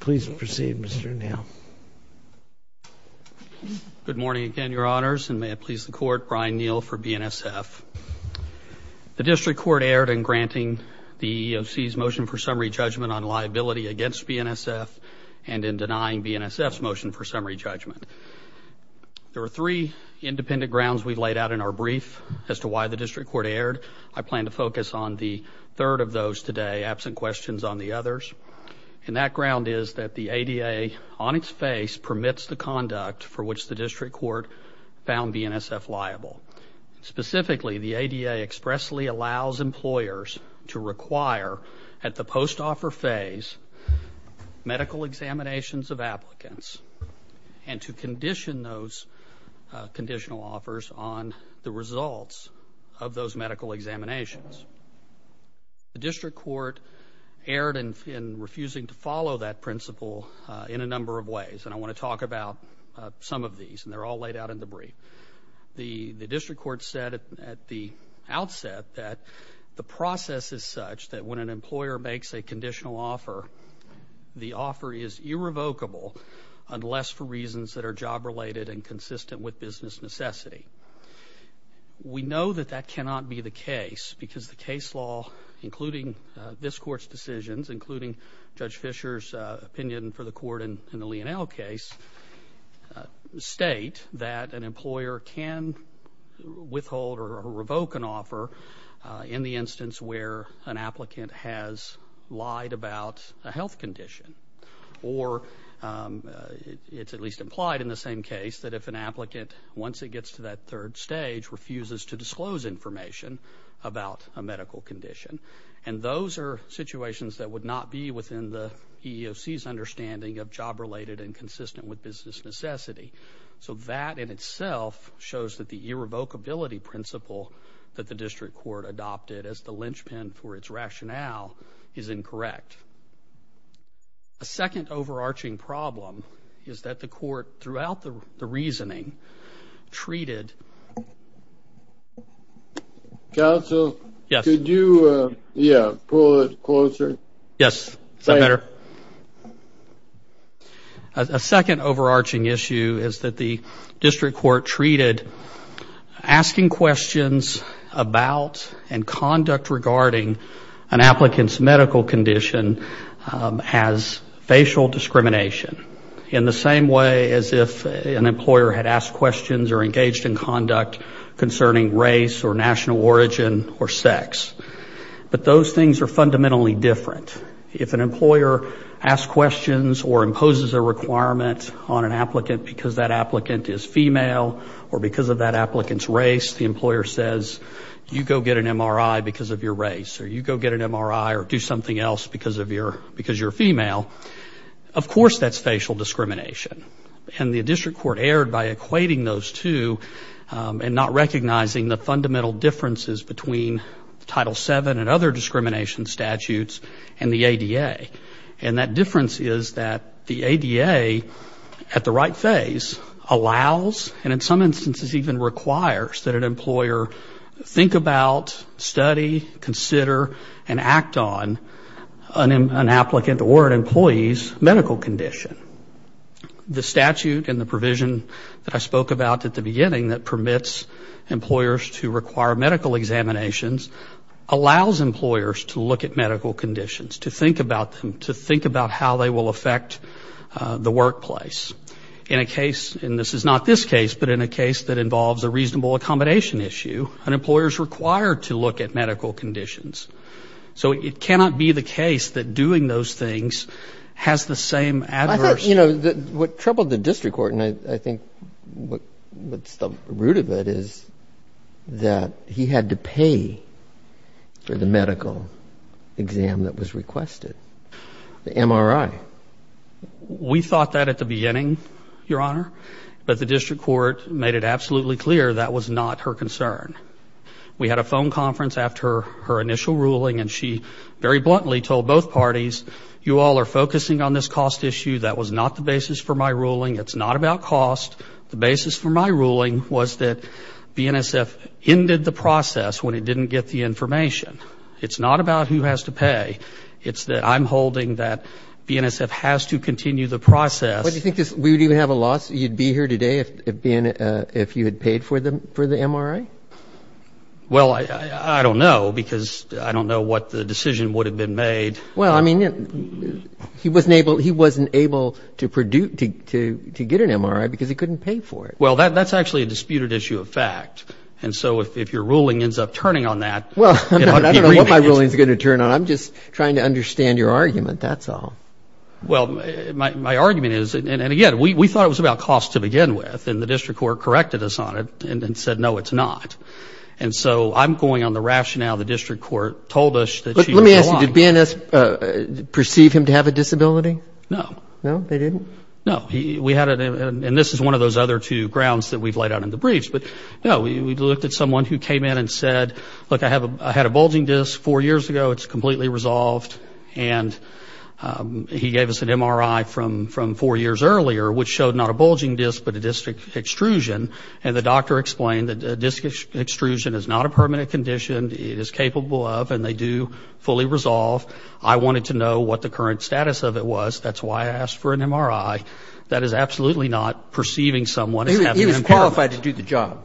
Please proceed, Mr. Neal. Good morning again, Your Honors. And may it please the court, Brian Neal for BNSF. The district court erred in granting the EEOC's motion for summary judgment on liability against BNSF and in denying BNSF's motion for summary judgment. There were three independent grounds we laid out in our brief as to why the district court erred. I plan to focus on the third of those today, absent questions on the others. And that ground is that the ADA on its face permits the conduct for which the district court found BNSF liable. Specifically, the ADA expressly allows employers to require at the post-offer phase medical examinations of applicants and to condition those conditional offers on the results of those medical examinations. The district court erred in refusing to follow that principle in a number of ways. And I want to talk about some of these. And they're all laid out in the brief. The district court said at the outset that the process is such that when an employer makes a conditional offer, the offer is irrevocable unless for reasons that are job-related and consistent with business necessity. We know that that cannot be the case because the case law, including this court's decisions, including Judge Fisher's opinion for the court in the Leonel case, state that an employer can withhold or revoke an offer in the instance where an applicant has lied about a health condition. Or it's at least implied in the same case that if an applicant, once it gets to that third stage, refuses to disclose information about a medical condition. And those are situations that would not be within the EEOC's understanding of job-related and consistent with business necessity. So that in itself shows that the irrevocability principle that the district court adopted as the linchpin for its rationale is incorrect. A second overarching problem is that the court, throughout the reasoning, treated... Counsel? Yes. Could you, yeah, pull it closer? Yes, is that better? A second overarching issue is that the district court treated asking questions about and conduct regarding an applicant's medical condition as facial discrimination, in the same way as if an employer had asked questions or engaged in conduct concerning race or national origin or sex. But those things are fundamentally different. If an employer asks questions or imposes a requirement on an applicant because that applicant is female or because of that applicant's race, the employer says, you go get an MRI because of your race, or you go get an MRI or do something else because you're female, of course that's facial discrimination. And the district court erred by equating those two and not recognizing the fundamental differences between Title VII and other discrimination statutes and the ADA. And that difference is that the ADA, at the right phase, allows and in some instances even requires that an employer think about, study, consider, and act on an applicant or an employee's medical condition. The statute and the provision that I spoke about at the beginning that permits employers to require medical examinations allows employers to look at medical conditions, to think about them, to think about how they will affect the workplace. In a case, and this is not this case, but in a case that involves a reasonable accommodation issue, an employer is required to look at medical conditions. So it cannot be the case that doing those things has the same adverse... I thought, you know, what troubled the district court and I think what's the root of it is that he had to pay for the medical exam that was requested, the MRI. We thought that at the beginning, Your Honor, but the district court made it absolutely clear that was not her concern. We had a phone conference after her initial ruling and she very bluntly told both parties, you all are focusing on this cost issue. That was not the basis for my ruling. It's not about cost. The basis for my ruling was that BNSF ended the process when it didn't get the information. It's not about who has to pay. It's that I'm holding that BNSF has to continue the process. Well, do you think we would even have a lawsuit? You'd be here today if you had paid for the MRI? Well, I don't know because I don't know what the decision would have been made. Well, I mean, he wasn't able to get an MRI because he couldn't pay for it. Well, that's actually a disputed issue of fact. And so if your ruling ends up turning on that... Well, I don't know what my ruling is going to turn on. I'm just trying to understand your argument. That's all. Well, my argument is, and again, we thought it was about cost to begin with and the district court corrected us on it and said, no, it's not. And so I'm going on the rationale the district court told us that... Let me ask you, did BNS perceive him to have a disability? No. No, they didn't? No, we had it. And this is one of those other two grounds that we've laid out in the briefs. But no, we looked at someone who came in and said, look, I had a bulging disc four years ago. It's completely resolved. And he gave us an MRI from four years earlier, which showed not a bulging disc, but a disc extrusion. And the doctor explained that disc extrusion is not a permanent condition. It is capable of, and they do fully resolve. I wanted to know what the current status of it was. That's why I asked for an MRI. That is absolutely not perceiving someone as having impairment. He was qualified to do the job.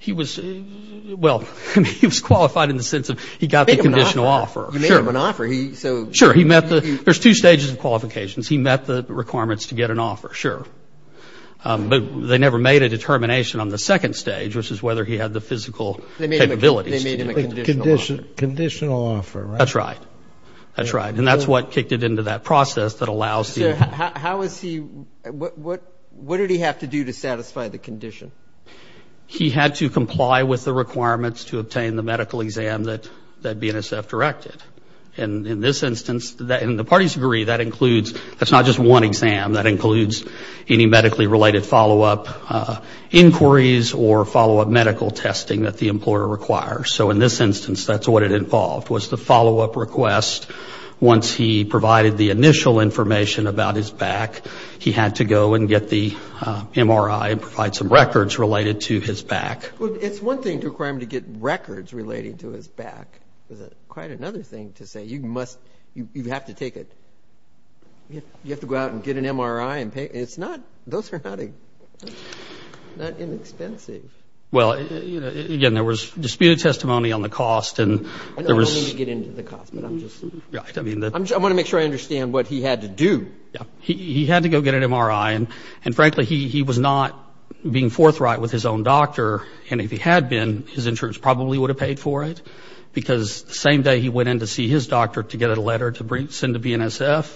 He was, well, he was qualified in the sense of he got the conditional offer. You made him an offer. He, so... Sure. He met the, there's two stages of qualifications. He met the requirements to get an offer. Sure. But they never made a determination on the second stage, which is whether he had the physical capabilities. They made him a conditional offer. Conditional offer, right? That's right. That's right. And that's what kicked it into that process that allows the... So how is he, what did he have to do to satisfy the condition? He had to comply with the requirements to obtain the medical exam that BNSF directed. And in this instance, and the parties agree that includes, that's not just one exam. That includes any medically related follow-up inquiries or follow-up medical testing that the employer requires. So in this instance, that's what it involved, was the follow-up request. Once he provided the initial information about his back, he had to go and get the MRI and provide some records related to his back. It's one thing to require him to get records related to his back. There's quite another thing to say. You have to take it. You have to go out and get an MRI and pay. It's not... Those are not inexpensive. Well, again, there was disputed testimony on the cost and there was... I don't mean to get into the cost, but I'm just... I want to make sure I understand what he had to do. Yeah, he had to go get an MRI. And frankly, he was not being forthright with his own doctor. And if he had been, his insurance probably would have paid for it because the same day he went in to see his doctor to get a letter to send to BNSF,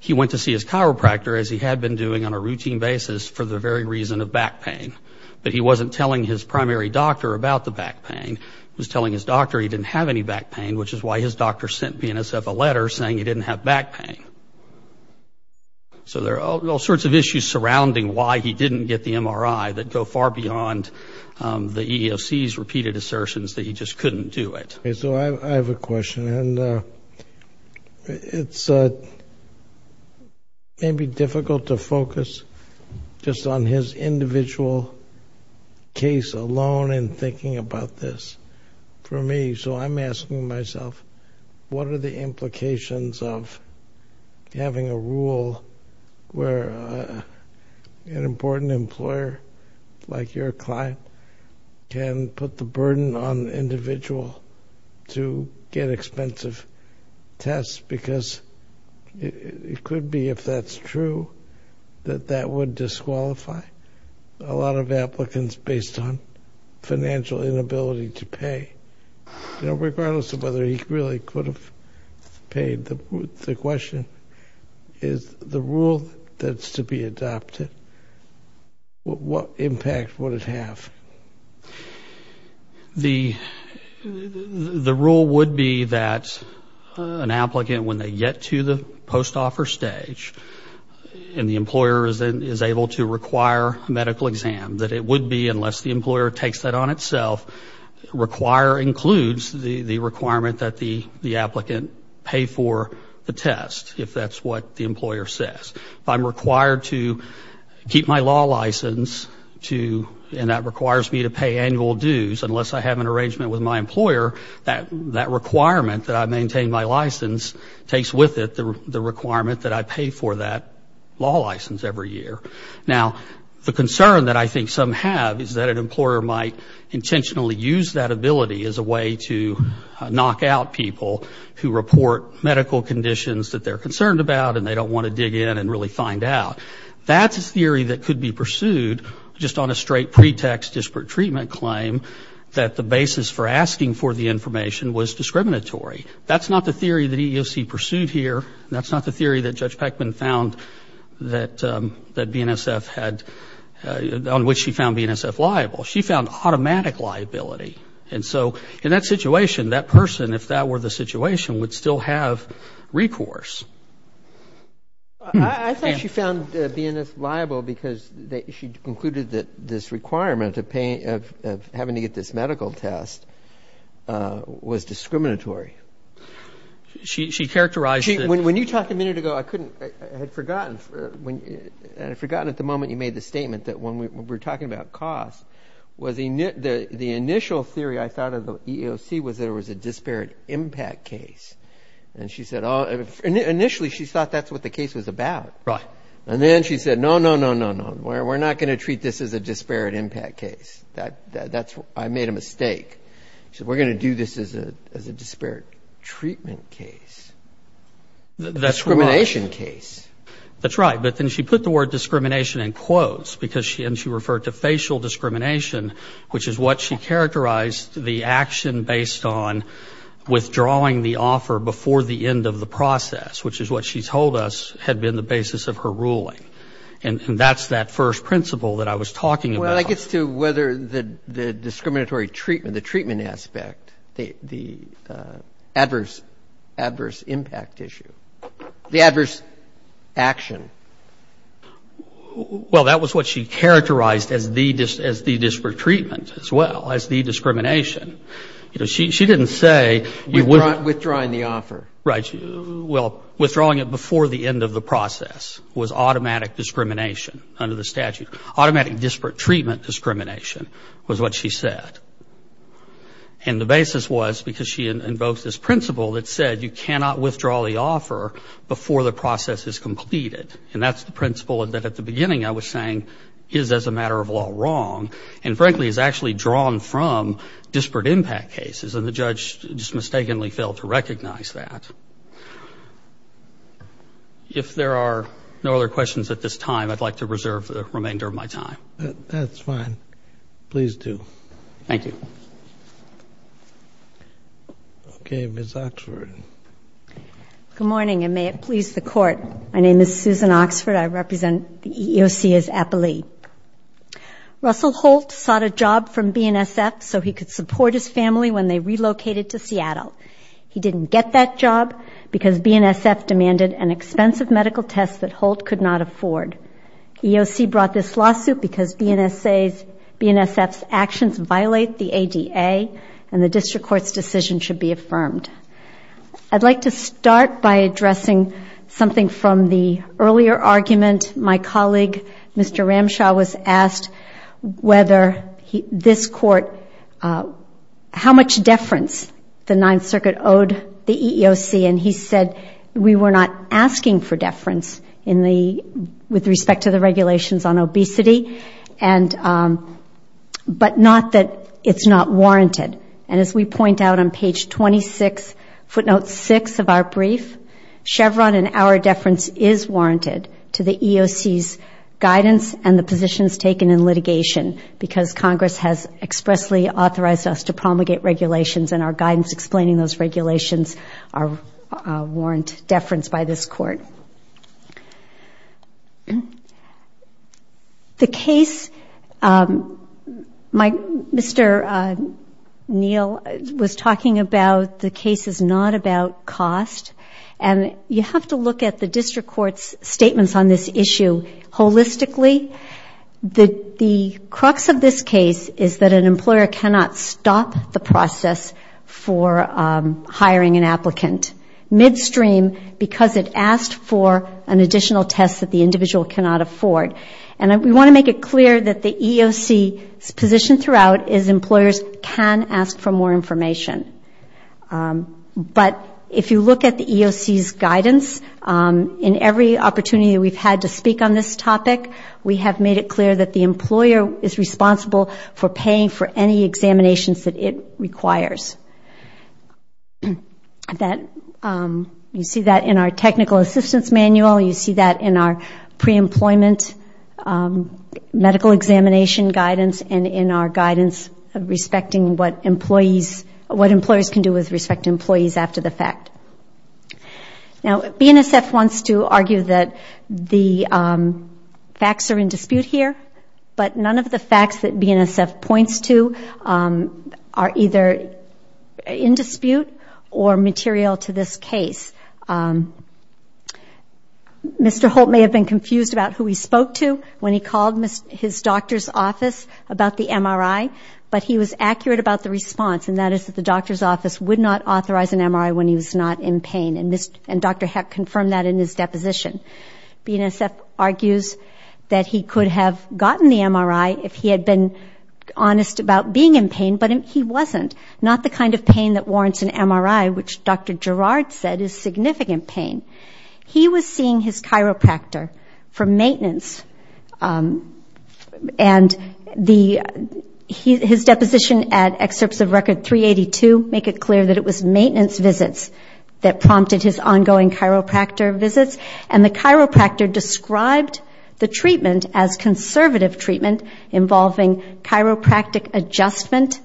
he went to see his chiropractor, as he had been doing on a routine basis, for the very reason of back pain. But he wasn't telling his primary doctor about the back pain. He was telling his doctor he didn't have any back pain, which is why his doctor sent BNSF a letter saying he didn't have back pain. So there are all sorts of issues surrounding why he didn't get the MRI that go far beyond the EEOC's repeated assertions that he just couldn't do it. So I have a question. It's maybe difficult to focus just on his individual case alone in thinking about this for me. So I'm asking myself, what are the implications of having a rule where an important employer, like your client, can put the burden on the individual to get expensive tests? Because it could be, if that's true, that that would disqualify a lot of applicants based on financial inability to pay, regardless of whether he really could have paid. The question is, the rule that's to be adopted, what impact would it have? The rule would be that an applicant, when they get to the post-offer stage, and the employer is able to require a medical exam, that it would be, unless the employer takes that on itself, require includes the requirement that the applicant pay for the test, if that's what the employer says. If I'm required to keep my law license, and that requires me to pay annual dues, unless I have an arrangement with my employer, that requirement that I maintain my license takes with it the requirement that I pay for that law license every year. Now, the concern that I think some have is that an employer might intentionally use that ability as a way to knock out people who report medical conditions that they're concerned about, and they don't want to dig in and really find out. That's a theory that could be pursued just on a straight pretext disparate treatment claim, that the basis for asking for the information was discriminatory. That's not the theory that EEOC pursued here. That's not the theory that Judge Peckman found that BNSF had, on which she found BNSF liable. She found automatic liability. And so, in that situation, that person, if that were the situation, would still have recourse. I think she found BNSF liable because she concluded that this requirement of having to get this medical test was discriminatory. She characterized it. When you talked a minute ago, I couldn't, I had forgotten at the moment you made the statement that when we were talking about cost, the initial theory I thought of the EEOC was there was a disparate impact case. And she said, initially, she thought that's what the case was about. Right. And then she said, no, no, no, no, no, we're not going to treat this as a disparate impact case. I made a mistake. She said, we're going to do this as a disparate treatment case, discrimination case. That's right. But then she put the word discrimination in quotes because she, and she referred to facial discrimination, which is what she characterized the action based on withdrawing the offer before the end of the process, which is what she told us had been the basis of her ruling. And that's that first principle that I was talking about. That gets to whether the discriminatory treatment, the treatment aspect, the adverse impact issue, the adverse action. Well, that was what she characterized as the disparate treatment as well, as the discrimination. She didn't say you wouldn't. Withdrawing the offer. Right. Well, withdrawing it before the end of the process was automatic discrimination under the statute. Automatic disparate treatment discrimination was what she said. And the basis was because she invoked this principle that said you cannot withdraw the offer before the process is completed. And that's the principle that at the beginning I was saying is as a matter of law wrong and frankly is actually drawn from disparate impact cases. And the judge just mistakenly failed to recognize that. If there are no other questions at this time, I'd like to reserve the remainder of my time. That's fine. Please do. Thank you. Okay. Ms. Oxford. Good morning and may it please the court. My name is Susan Oxford. I represent the EEOC as appellee. Russell Holt sought a job from BNSF so he could support his family when they relocated to Seattle. He didn't get that job because BNSF demanded an expensive medical test that Holt could not afford. EEOC brought this lawsuit because BNSF's actions violate the ADA and the district court's decision should be affirmed. I'd like to start by addressing something from the earlier argument. My colleague, Mr. Ramshaw, was asked how much deference the Ninth Circuit owed the EEOC and he said we were not asking for deference with respect to the regulations on obesity but not that it's not warranted. And as we point out on page 26, footnote 6 of our brief, Chevron and our deference is EEOC's guidance and the positions taken in litigation because Congress has expressly authorized us to promulgate regulations and our guidance explaining those regulations are warrant deference by this court. The case, Mr. Neal was talking about the case is not about cost and you have to look at the district court's statements on this issue holistically. The crux of this case is that an employer cannot stop the process for hiring an applicant midstream because it asked for an additional test that the individual cannot afford. And we want to make it clear that the EEOC's position throughout is employers can ask for more information. But if you look at the EEOC's guidance, in every opportunity we've had to speak on this topic, we have made it clear that the employer is responsible for paying for any examinations that it requires. You see that in our technical assistance manual, you see that in our pre-employment medical examination guidance and in our guidance respecting what employers can do with respect to employees after the fact. Now, BNSF wants to argue that the facts are in dispute here, but none of the facts that BNSF points to are either in dispute or material to this case. Mr. Holt may have been confused about who he spoke to when he called his doctor's office about the MRI, but he was accurate about the response, and that is that the doctor's office would not authorize an MRI when he was not in pain, and Dr. Heck confirmed that in his deposition. BNSF argues that he could have gotten the MRI if he had been honest about being in pain, but he wasn't, not the kind of pain that warrants an MRI, which Dr. Gerard said is significant pain. He was seeing his chiropractor for maintenance, and his deposition at Excerpts of Record 382 make it clear that it was maintenance visits that prompted his ongoing chiropractor visits, and the chiropractor described the treatment as conservative treatment involving chiropractic adjustment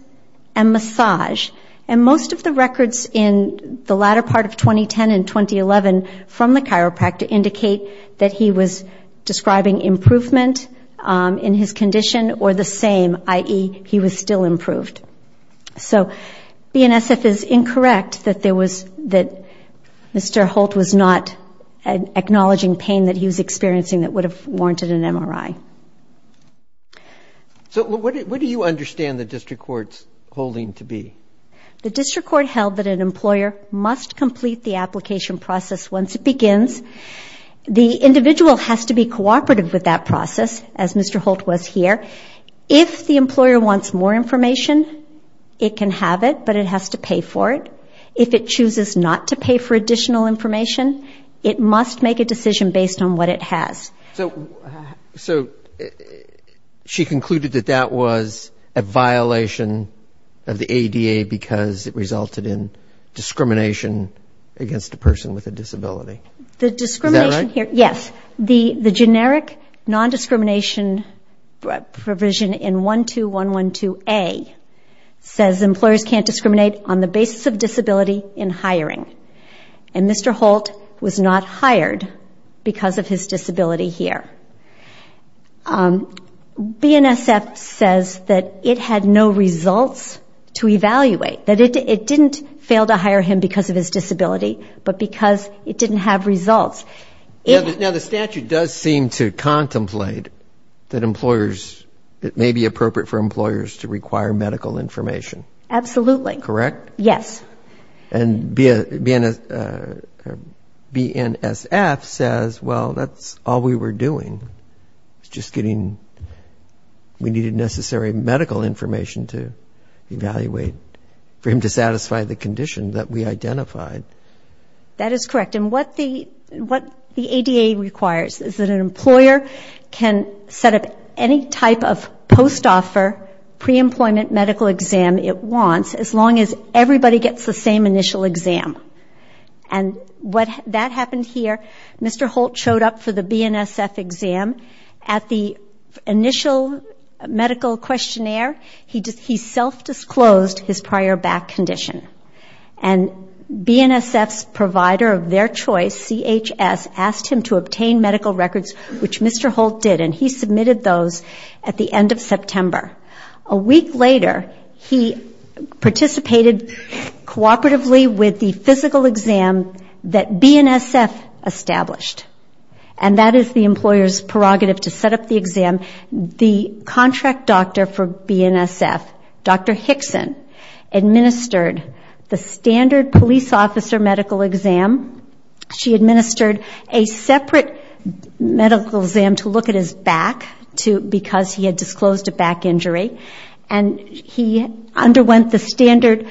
and massage. And most of the records in the latter part of 2010 and 2011 from the chiropractor indicate that he was describing improvement in his condition or the same, i.e., he was still improved. So BNSF is incorrect that Mr. Holt was not acknowledging pain that he was experiencing that would have warranted an MRI. So what do you understand the district court's holding to be? The district court held that an employer must complete the application process once it begins. The individual has to be cooperative with that process, as Mr. Holt was here. If the employer wants more information, it can have it, but it has to pay for it. If it chooses not to pay for additional information, it must make a decision based on what it has. So she concluded that that was a violation of the ADA because it resulted in discrimination against a person with a disability. The discrimination here, yes. The generic non-discrimination provision in 12112A says employers can't discriminate on the basis of disability in hiring. And Mr. Holt was not hired because of his disability here. BNSF says that it had no results to evaluate, that it didn't fail to hire him because of his disability, but because it didn't have results. Now, the statute does seem to contemplate that employers, it may be appropriate for employers to require medical information. Absolutely. Correct? Yes. And BNSF says, well, that's all we were doing. It's just getting, we needed necessary medical information to evaluate for him to satisfy the condition that we identified. That is correct. And what the ADA requires is that an employer can set up any type of post-offer pre-employment exam it wants as long as everybody gets the same initial exam. And that happened here. Mr. Holt showed up for the BNSF exam. At the initial medical questionnaire, he self-disclosed his prior back condition. And BNSF's provider of their choice, CHS, asked him to obtain medical records, which Mr. Holt did. And he submitted those at the end of September. A week later, he participated cooperatively with the physical exam that BNSF established. And that is the employer's prerogative to set up the exam. The contract doctor for BNSF, Dr. Hickson, administered the standard police officer medical exam. She administered a separate medical exam to look at his back because he had disclosed a back injury. And he underwent the standard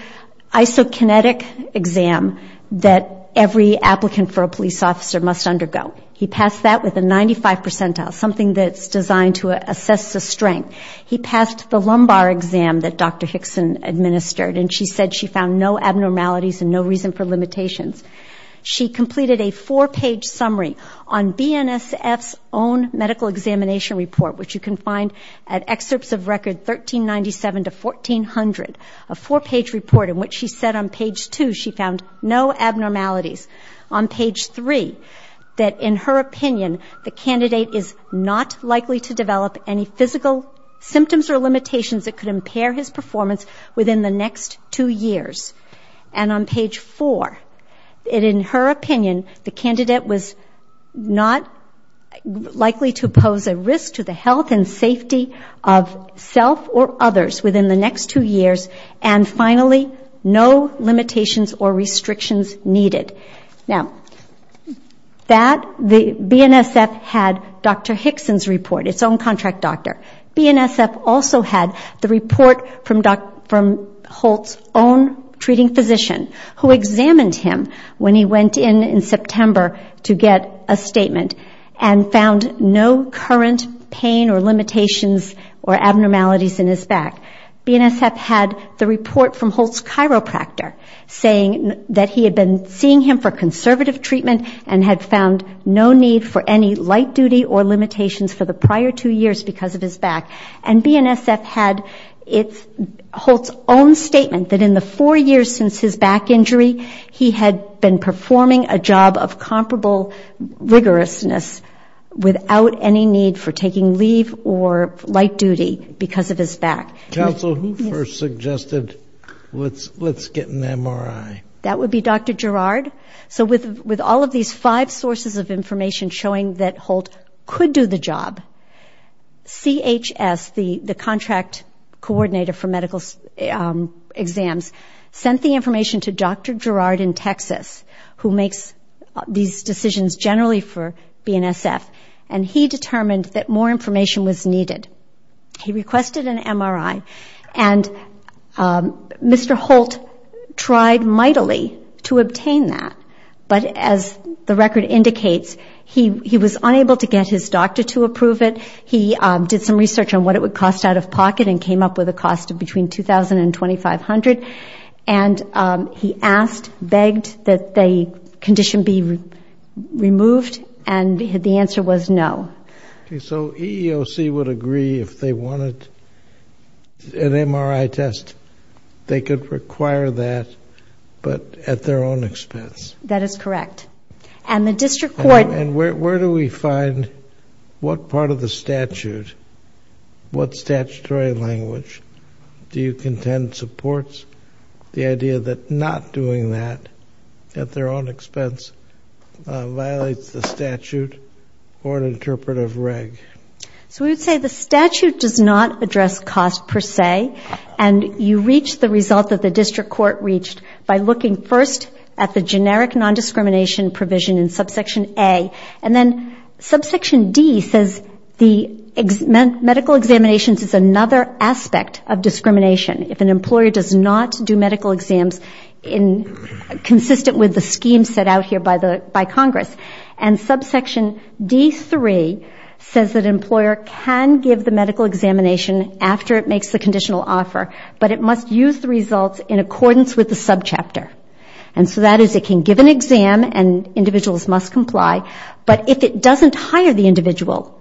isokinetic exam that every applicant for a police officer must undergo. He passed that with a 95 percentile, something that's designed to assess the strength. He passed the lumbar exam that Dr. Hickson administered. And she said she found no abnormalities and no reason for limitations. She completed a four-page summary on BNSF's own medical examination report, which you can find at excerpts of record 1397 to 1400, a four-page report in which she said on page two she found no abnormalities. On page three, that in her opinion, the candidate is not likely to develop any physical symptoms or limitations that could impair his performance within the next two years. And on page four, that in her opinion, the candidate was not likely to pose a risk to the health and safety of self or others within the next two years. And finally, no limitations or restrictions needed. Now, that, the BNSF had Dr. Hickson's report, its own contract doctor. BNSF also had the report from Holt's own treating physician who examined him when he went in in September to get a statement and found no current pain or limitations or abnormalities in his back. BNSF had the report from Holt's chiropractor saying that he had been seeing him for conservative treatment and had found no need for any light duty or limitations for the prior two years because of his back. And BNSF had Holt's own statement that in the four years since his back injury, he had been performing a job of comparable rigorousness without any need for taking leave or light duty because of his back. Counsel, who first suggested, let's get an MRI? That would be Dr. Girard. So with all of these five sources of information showing that Holt could do the job, CHS, the who makes these decisions generally for BNSF, and he determined that more information was needed. He requested an MRI, and Mr. Holt tried mightily to obtain that. But as the record indicates, he was unable to get his doctor to approve it. He did some research on what it would cost out of pocket and came up with a cost of between $2,000 and $2,500. And he asked, begged that the condition be removed, and the answer was no. So EEOC would agree if they wanted an MRI test, they could require that, but at their own expense? And the district court- And where do we find what part of the statute, what statutory language do you contend supports the idea that not doing that at their own expense violates the statute or an interpretive reg? So we would say the statute does not address cost per se, and you reach the result that the district court reached by looking first at the generic nondiscrimination provision in subsection A, and then subsection D says the medical examinations is another aspect of discrimination if an employer does not do medical exams consistent with the scheme set out here by Congress. And subsection D3 says that an employer can give the medical examination after it makes the conditional offer, but it must use the results in accordance with the subchapter. And so that is it can give an exam and individuals must comply, but if it doesn't hire the individual,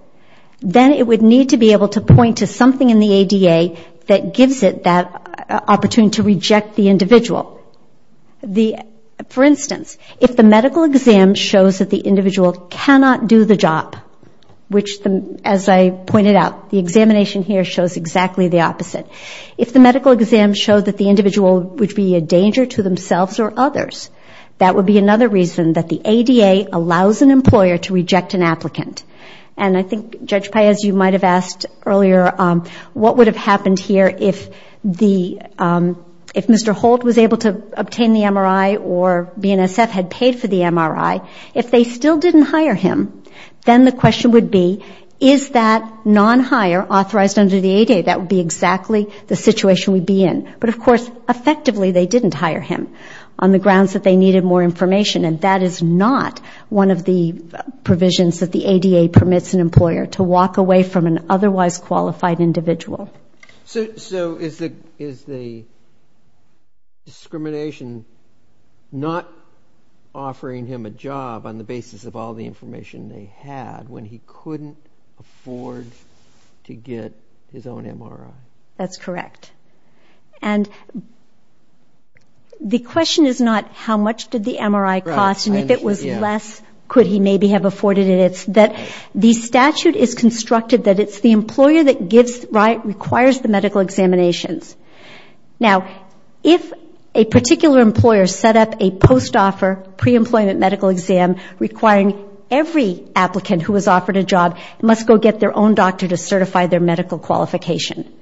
then it would need to be able to point to something in the ADA that gives it that opportunity to reject the individual. For instance, if the medical exam shows that the individual cannot do the job, which as I pointed out, the examination here shows exactly the opposite, if the medical exam shows that the individual would be a danger to themselves or others, that would be another reason that the ADA allows an employer to reject an applicant. And I think Judge Paez, you might have asked earlier what would have happened here if Mr. Holt was able to obtain the MRI or BNSF had paid for the MRI, if they still didn't hire him, then the question would be, is that non-hire authorized under the ADA? That would be exactly the situation we'd be in. But of course, effectively, they didn't hire him on the grounds that they needed more information, and that is not one of the provisions that the ADA permits an employer to walk away from an otherwise qualified individual. So is the discrimination not offering him a job on the basis of all the information they had when he couldn't afford to get his own MRI? That's correct. And the question is not how much did the MRI cost, and if it was less, could he maybe have afforded it? It's that the statute is constructed that it's the employer that requires the medical examinations. Now, if a particular employer set up a post-offer pre-employment medical exam requiring every applicant who was offered a job must go get their own doctor to certify their medical qualification.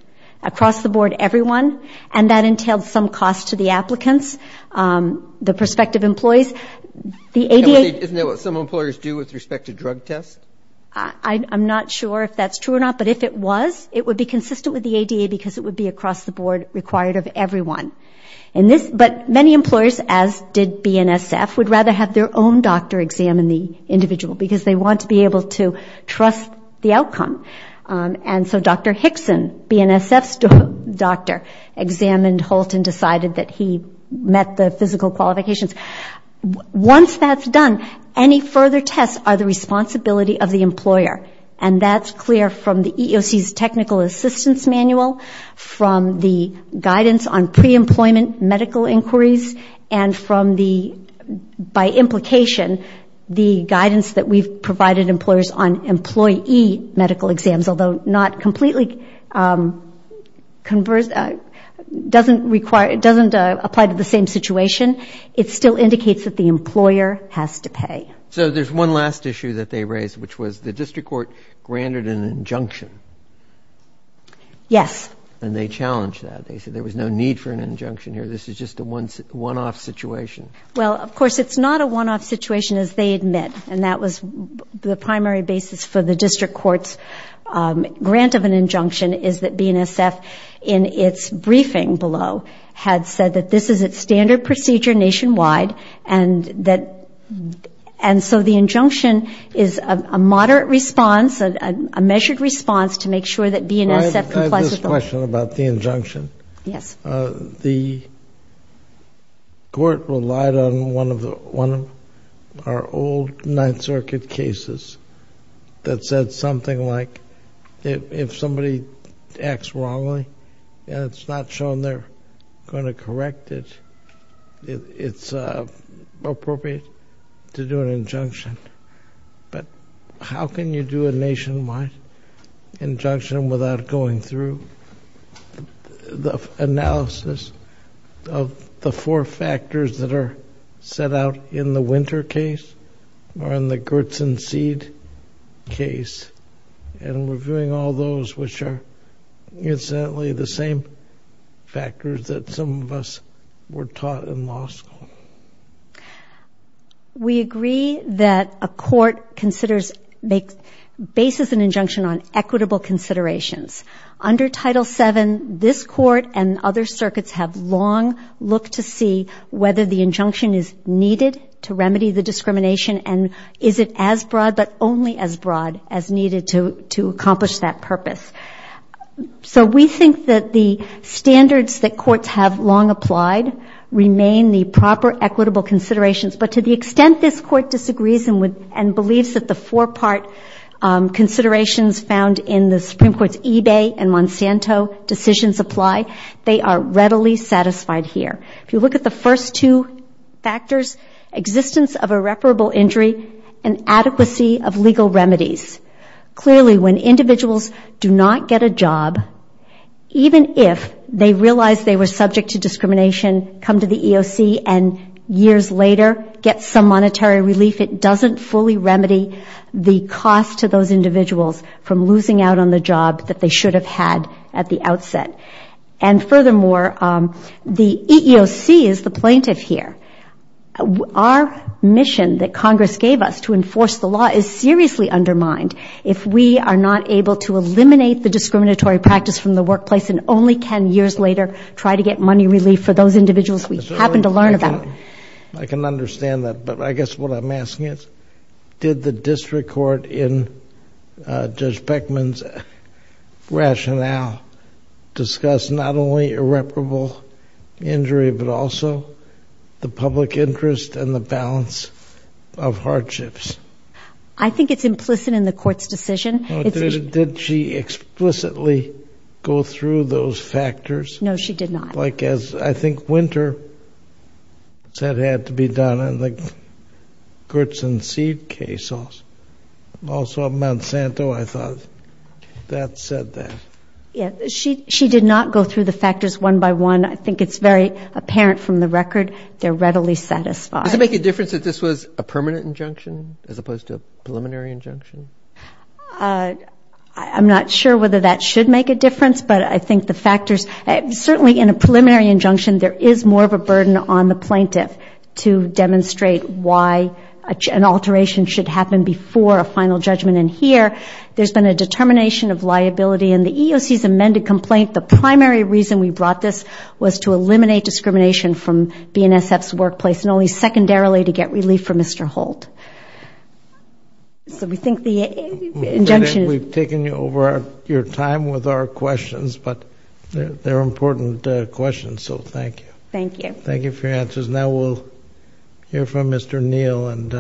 Across the board, everyone, and that entailed some cost to the applicants, the prospective employees. Isn't that what some employers do with respect to drug tests? I'm not sure if that's true or not, but if it was, it would be consistent with the ADA because it would be across the board required of everyone. But many employers, as did BNSF, would rather have their own doctor examine the individual because they want to be able to trust the outcome. And so Dr. Hickson, BNSF's doctor, examined Holt and decided that he met the physical qualifications. Once that's done, any further tests are the responsibility of the employer. And that's clear from the EEOC's technical assistance manual, from the guidance on pre-employment medical inquiries, and from the, by implication, the guidance that we've provided employers on employee medical exams, although not completely, doesn't require, doesn't apply to the same situation. It still indicates that the employer has to pay. So there's one last issue that they raised, which was the district court granted an injunction. Yes. And they challenged that. They said there was no need for an injunction here. This is just a one-off situation. Well, of course, it's not a one-off situation, as they admit. And that was the primary basis for the district court's grant of an injunction, is that BNSF, in its briefing below, had said that this is its standard procedure nationwide and that, and so the injunction is a moderate response, a measured response to make sure that BNSF complies with the law. I have a question about the injunction. Yes. The court relied on one of our old Ninth Circuit cases that said something like, if somebody acts wrongly and it's not shown they're going to correct it, it's appropriate to do an injunction. But how can you do a nationwide injunction without going through the analysis of the four factors that are set out in the Winter case or in the Gertz and Seed case and reviewing all those which are, incidentally, the same factors that some of us were taught in law school? We agree that a court considers, bases an injunction on equitable considerations. Under Title VII, this court and other circuits have long looked to see whether the injunction is needed to remedy the discrimination and is it as broad, but only as broad, as needed to accomplish that purpose. So we think that the standards that courts have long applied remain the proper and the equitable considerations, but to the extent this court disagrees and believes that the four-part considerations found in the Supreme Court's Ebay and Monsanto decisions apply, they are readily satisfied here. If you look at the first two factors, existence of irreparable injury and adequacy of legal remedies. Clearly, when individuals do not get a job, even if they realize they were subject to years later, get some monetary relief, it doesn't fully remedy the cost to those individuals from losing out on the job that they should have had at the outset. And furthermore, the EEOC is the plaintiff here. Our mission that Congress gave us to enforce the law is seriously undermined if we are not able to eliminate the discriminatory practice from the workplace and only ten years later try to get money relief for those individuals we happen to learn about. I can understand that, but I guess what I'm asking is, did the district court in Judge Beckman's rationale discuss not only irreparable injury, but also the public interest and the balance of hardships? I think it's implicit in the court's decision. Did she explicitly go through those factors? No, she did not. I think Winter said it had to be done in the Gertz and Seed case. Also at Monsanto, I thought that said that. She did not go through the factors one by one. I think it's very apparent from the record. They're readily satisfied. Does it make a difference that this was a permanent injunction as opposed to a preliminary injunction? I'm not sure whether that should make a difference, but I think the factors, certainly in a preliminary injunction, there is more of a burden on the plaintiff to demonstrate why an alteration should happen before a final judgment. And here, there's been a determination of liability in the EEOC's amended complaint. The primary reason we brought this was to eliminate discrimination from BNSF's workplace and only secondarily to get relief for Mr. Holt. So we think the injunction— We've taken over your time with our questions, but they're important questions. So thank you. Thank you. Thank you for your answers. Now we'll hear from Mr. Neal. And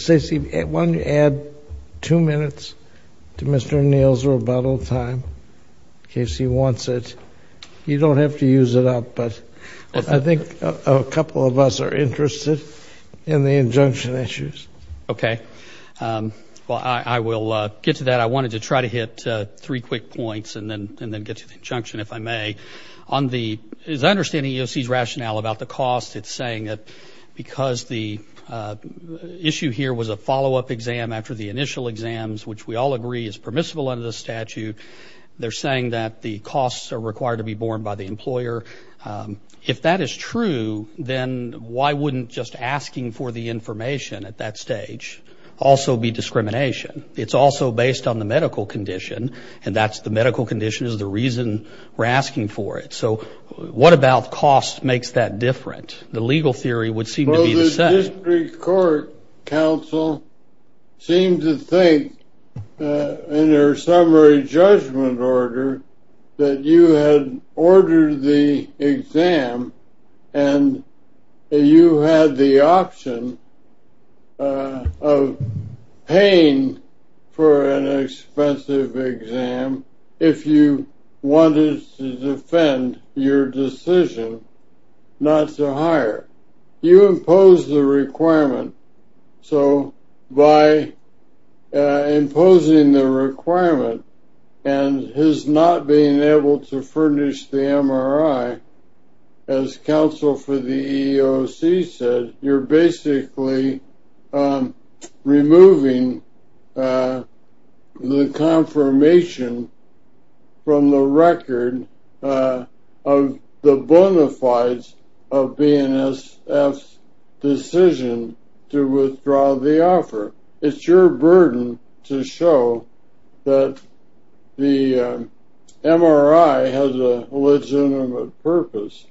Stacy, why don't you add two minutes to Mr. Neal's rebuttal time in case he wants it. You don't have to use it up, but I think a couple of us are interested in the injunction issues. Okay. Well, I will get to that. I wanted to try to hit three quick points and then get to the injunction, if I may. On the—as I understand the EEOC's rationale about the cost, it's saying that because the issue here was a follow-up exam after the initial exams, which we all agree is required to be borne by the employer, if that is true, then why wouldn't just asking for the information at that stage also be discrimination? It's also based on the medical condition, and that's—the medical condition is the reason we're asking for it. So what about cost makes that different? The legal theory would seem to be the same. The district court counsel seemed to think in their summary judgment order that you had ordered the exam and you had the option of paying for an expensive exam if you wanted to defend your decision not to hire. You impose the requirement, so by imposing the requirement and his not being able to furnish the MRI, as counsel for the EEOC said, you're basically removing the confirmation from the record of the bona fides of BNSF's decision to withdraw the offer. It's your burden to show that the MRI has a legitimate purpose,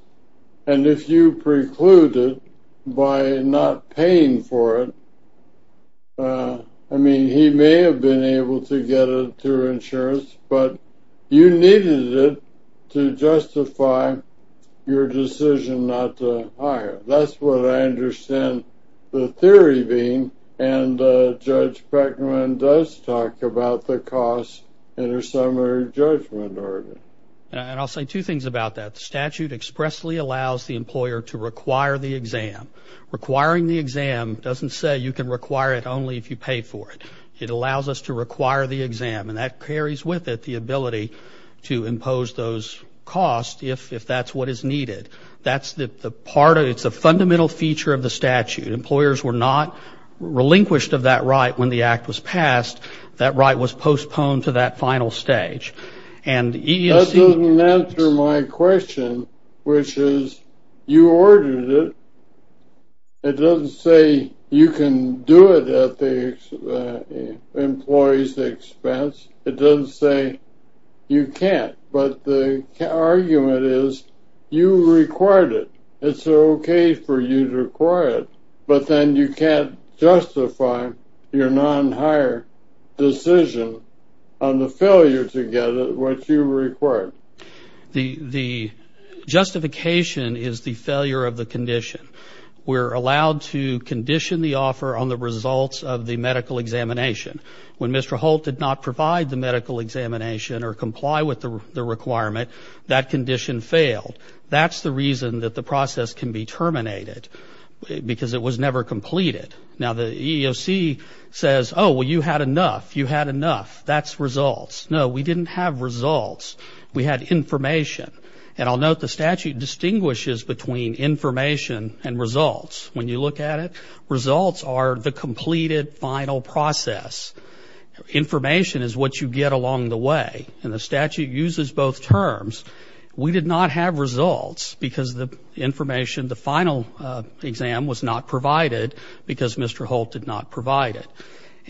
and if you preclude it by not paying for it, I mean, he may have been able to get it through insurance, but you needed it to justify your decision not to hire. That's what I understand the theory being, and Judge Beckman does talk about the cost in her summary judgment order. And I'll say two things about that. Statute expressly allows the employer to require the exam. Requiring the exam doesn't say you can require it only if you pay for it. It allows us to require the exam, and that carries with it the ability to impose those costs if that's what is needed. That's the part of it. It's a fundamental feature of the statute. Employers were not relinquished of that right when the act was passed. That right was postponed to that final stage. That doesn't answer my question, which is you ordered it. It doesn't say you can do it at the employee's expense. It doesn't say you can't, but the argument is you required it. It's okay for you to require it, but then you can't justify your non-hire decision on failure to get what you required. The justification is the failure of the condition. We're allowed to condition the offer on the results of the medical examination. When Mr. Holt did not provide the medical examination or comply with the requirement, that condition failed. That's the reason that the process can be terminated, because it was never completed. Now, the EEOC says, oh, well, you had enough. You had enough. That's results. No, we didn't have results. We had information. And I'll note the statute distinguishes between information and results. When you look at it, results are the completed final process. Information is what you get along the way, and the statute uses both terms. We did not have results, because the information, the final exam was not provided, because Mr. Holt did not provide it.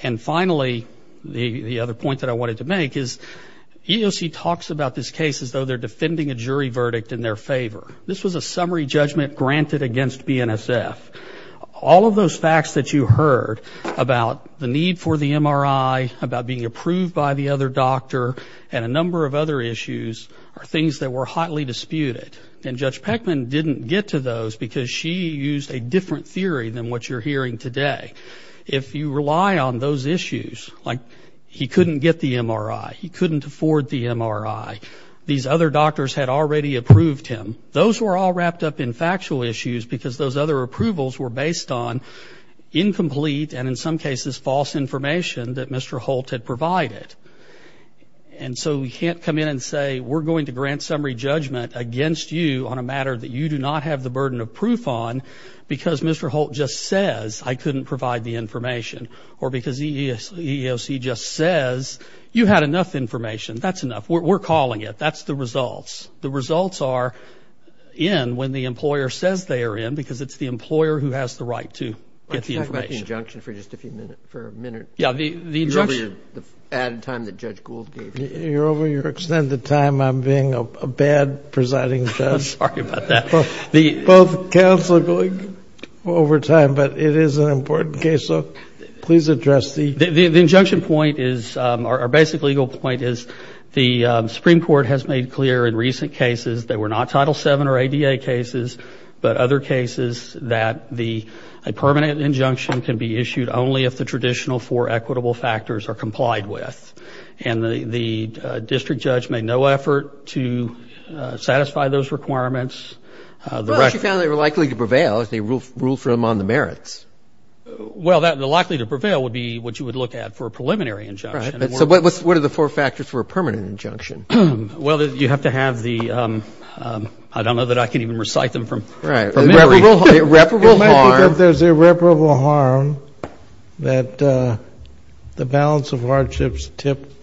And finally, the other point that I wanted to make is EEOC talks about this case as though they're defending a jury verdict in their favor. This was a summary judgment granted against BNSF. All of those facts that you heard about the need for the MRI, about being approved by the other doctor, and a number of other issues are things that were hotly disputed. And Judge Peckman didn't get to those, because she used a different theory than what you're hearing today. If you rely on those issues, like he couldn't get the MRI, he couldn't afford the MRI, these other doctors had already approved him, those were all wrapped up in factual issues because those other approvals were based on incomplete, and in some cases, false information that Mr. Holt had provided. And so we can't come in and say, we're going to grant summary judgment against you on a matter that you do not have the burden of proof on because Mr. Holt just says, I couldn't provide the information, or because EEOC just says, you had enough information. That's enough. We're calling it. That's the results. The results are in when the employer says they are in, because it's the employer who has the right to get the information. Let's talk about the injunction for just a few minutes, for a minute. Yeah, the injunction. You're over your added time that Judge Gould gave you. You're over your extended time. I'm being a bad presiding judge. I'm sorry about that. Both counsel are going over time, but it is an important case. So please address the— The injunction point is, or basic legal point is, the Supreme Court has made clear in recent cases that were not Title VII or ADA cases, but other cases that a permanent injunction can be issued only if the traditional four equitable factors are complied with. And the district judge made no effort to satisfy those requirements. She found they were likely to prevail if they ruled for them on the merits. Well, the likely to prevail would be what you would look at for a preliminary injunction. So what are the four factors for a permanent injunction? Well, you have to have the—I don't know that I can even recite them from memory. Irreparable harm. That the balance of hardships tipped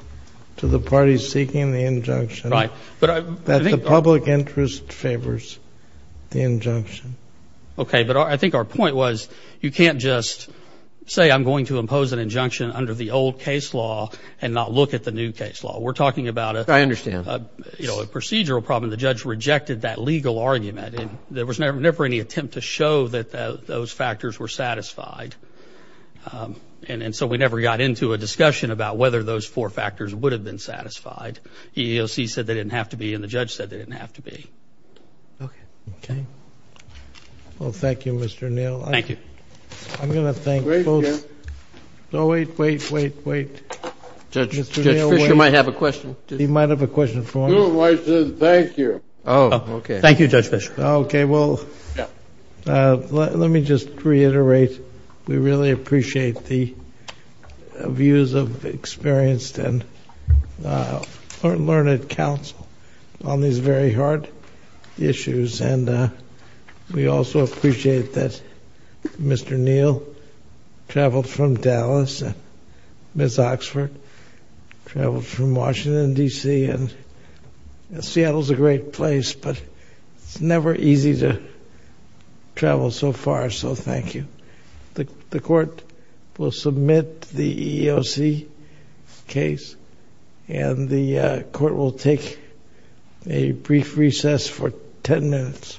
to the parties seeking the injunction. Right. But I think— That the public interest favors the injunction. Okay. But I think our point was, you can't just say, I'm going to impose an injunction under the old case law and not look at the new case law. We're talking about a— I understand. You know, a procedural problem. The judge rejected that legal argument. And there was never any attempt to show that those factors were satisfied. And so we never got into a discussion about whether those four factors would have been satisfied. The EEOC said they didn't have to be, and the judge said they didn't have to be. Okay. Okay. Well, thank you, Mr. Neal. Thank you. I'm going to thank both— Great, Jim. No, wait, wait, wait, wait. Judge, Judge Fischer might have a question. He might have a question for me. Your wife says thank you. Oh, okay. Thank you, Judge Fischer. Okay, well, let me just reiterate. We really appreciate the views of experienced and learned counsel on these very hard issues. And we also appreciate that Mr. Neal traveled from Dallas, and Ms. Oxford traveled from Washington, D.C. And Seattle's a great place, but it's never easy to travel so far, so thank you. The Court will submit the EEOC case, and the Court will take a brief recess for 10 minutes.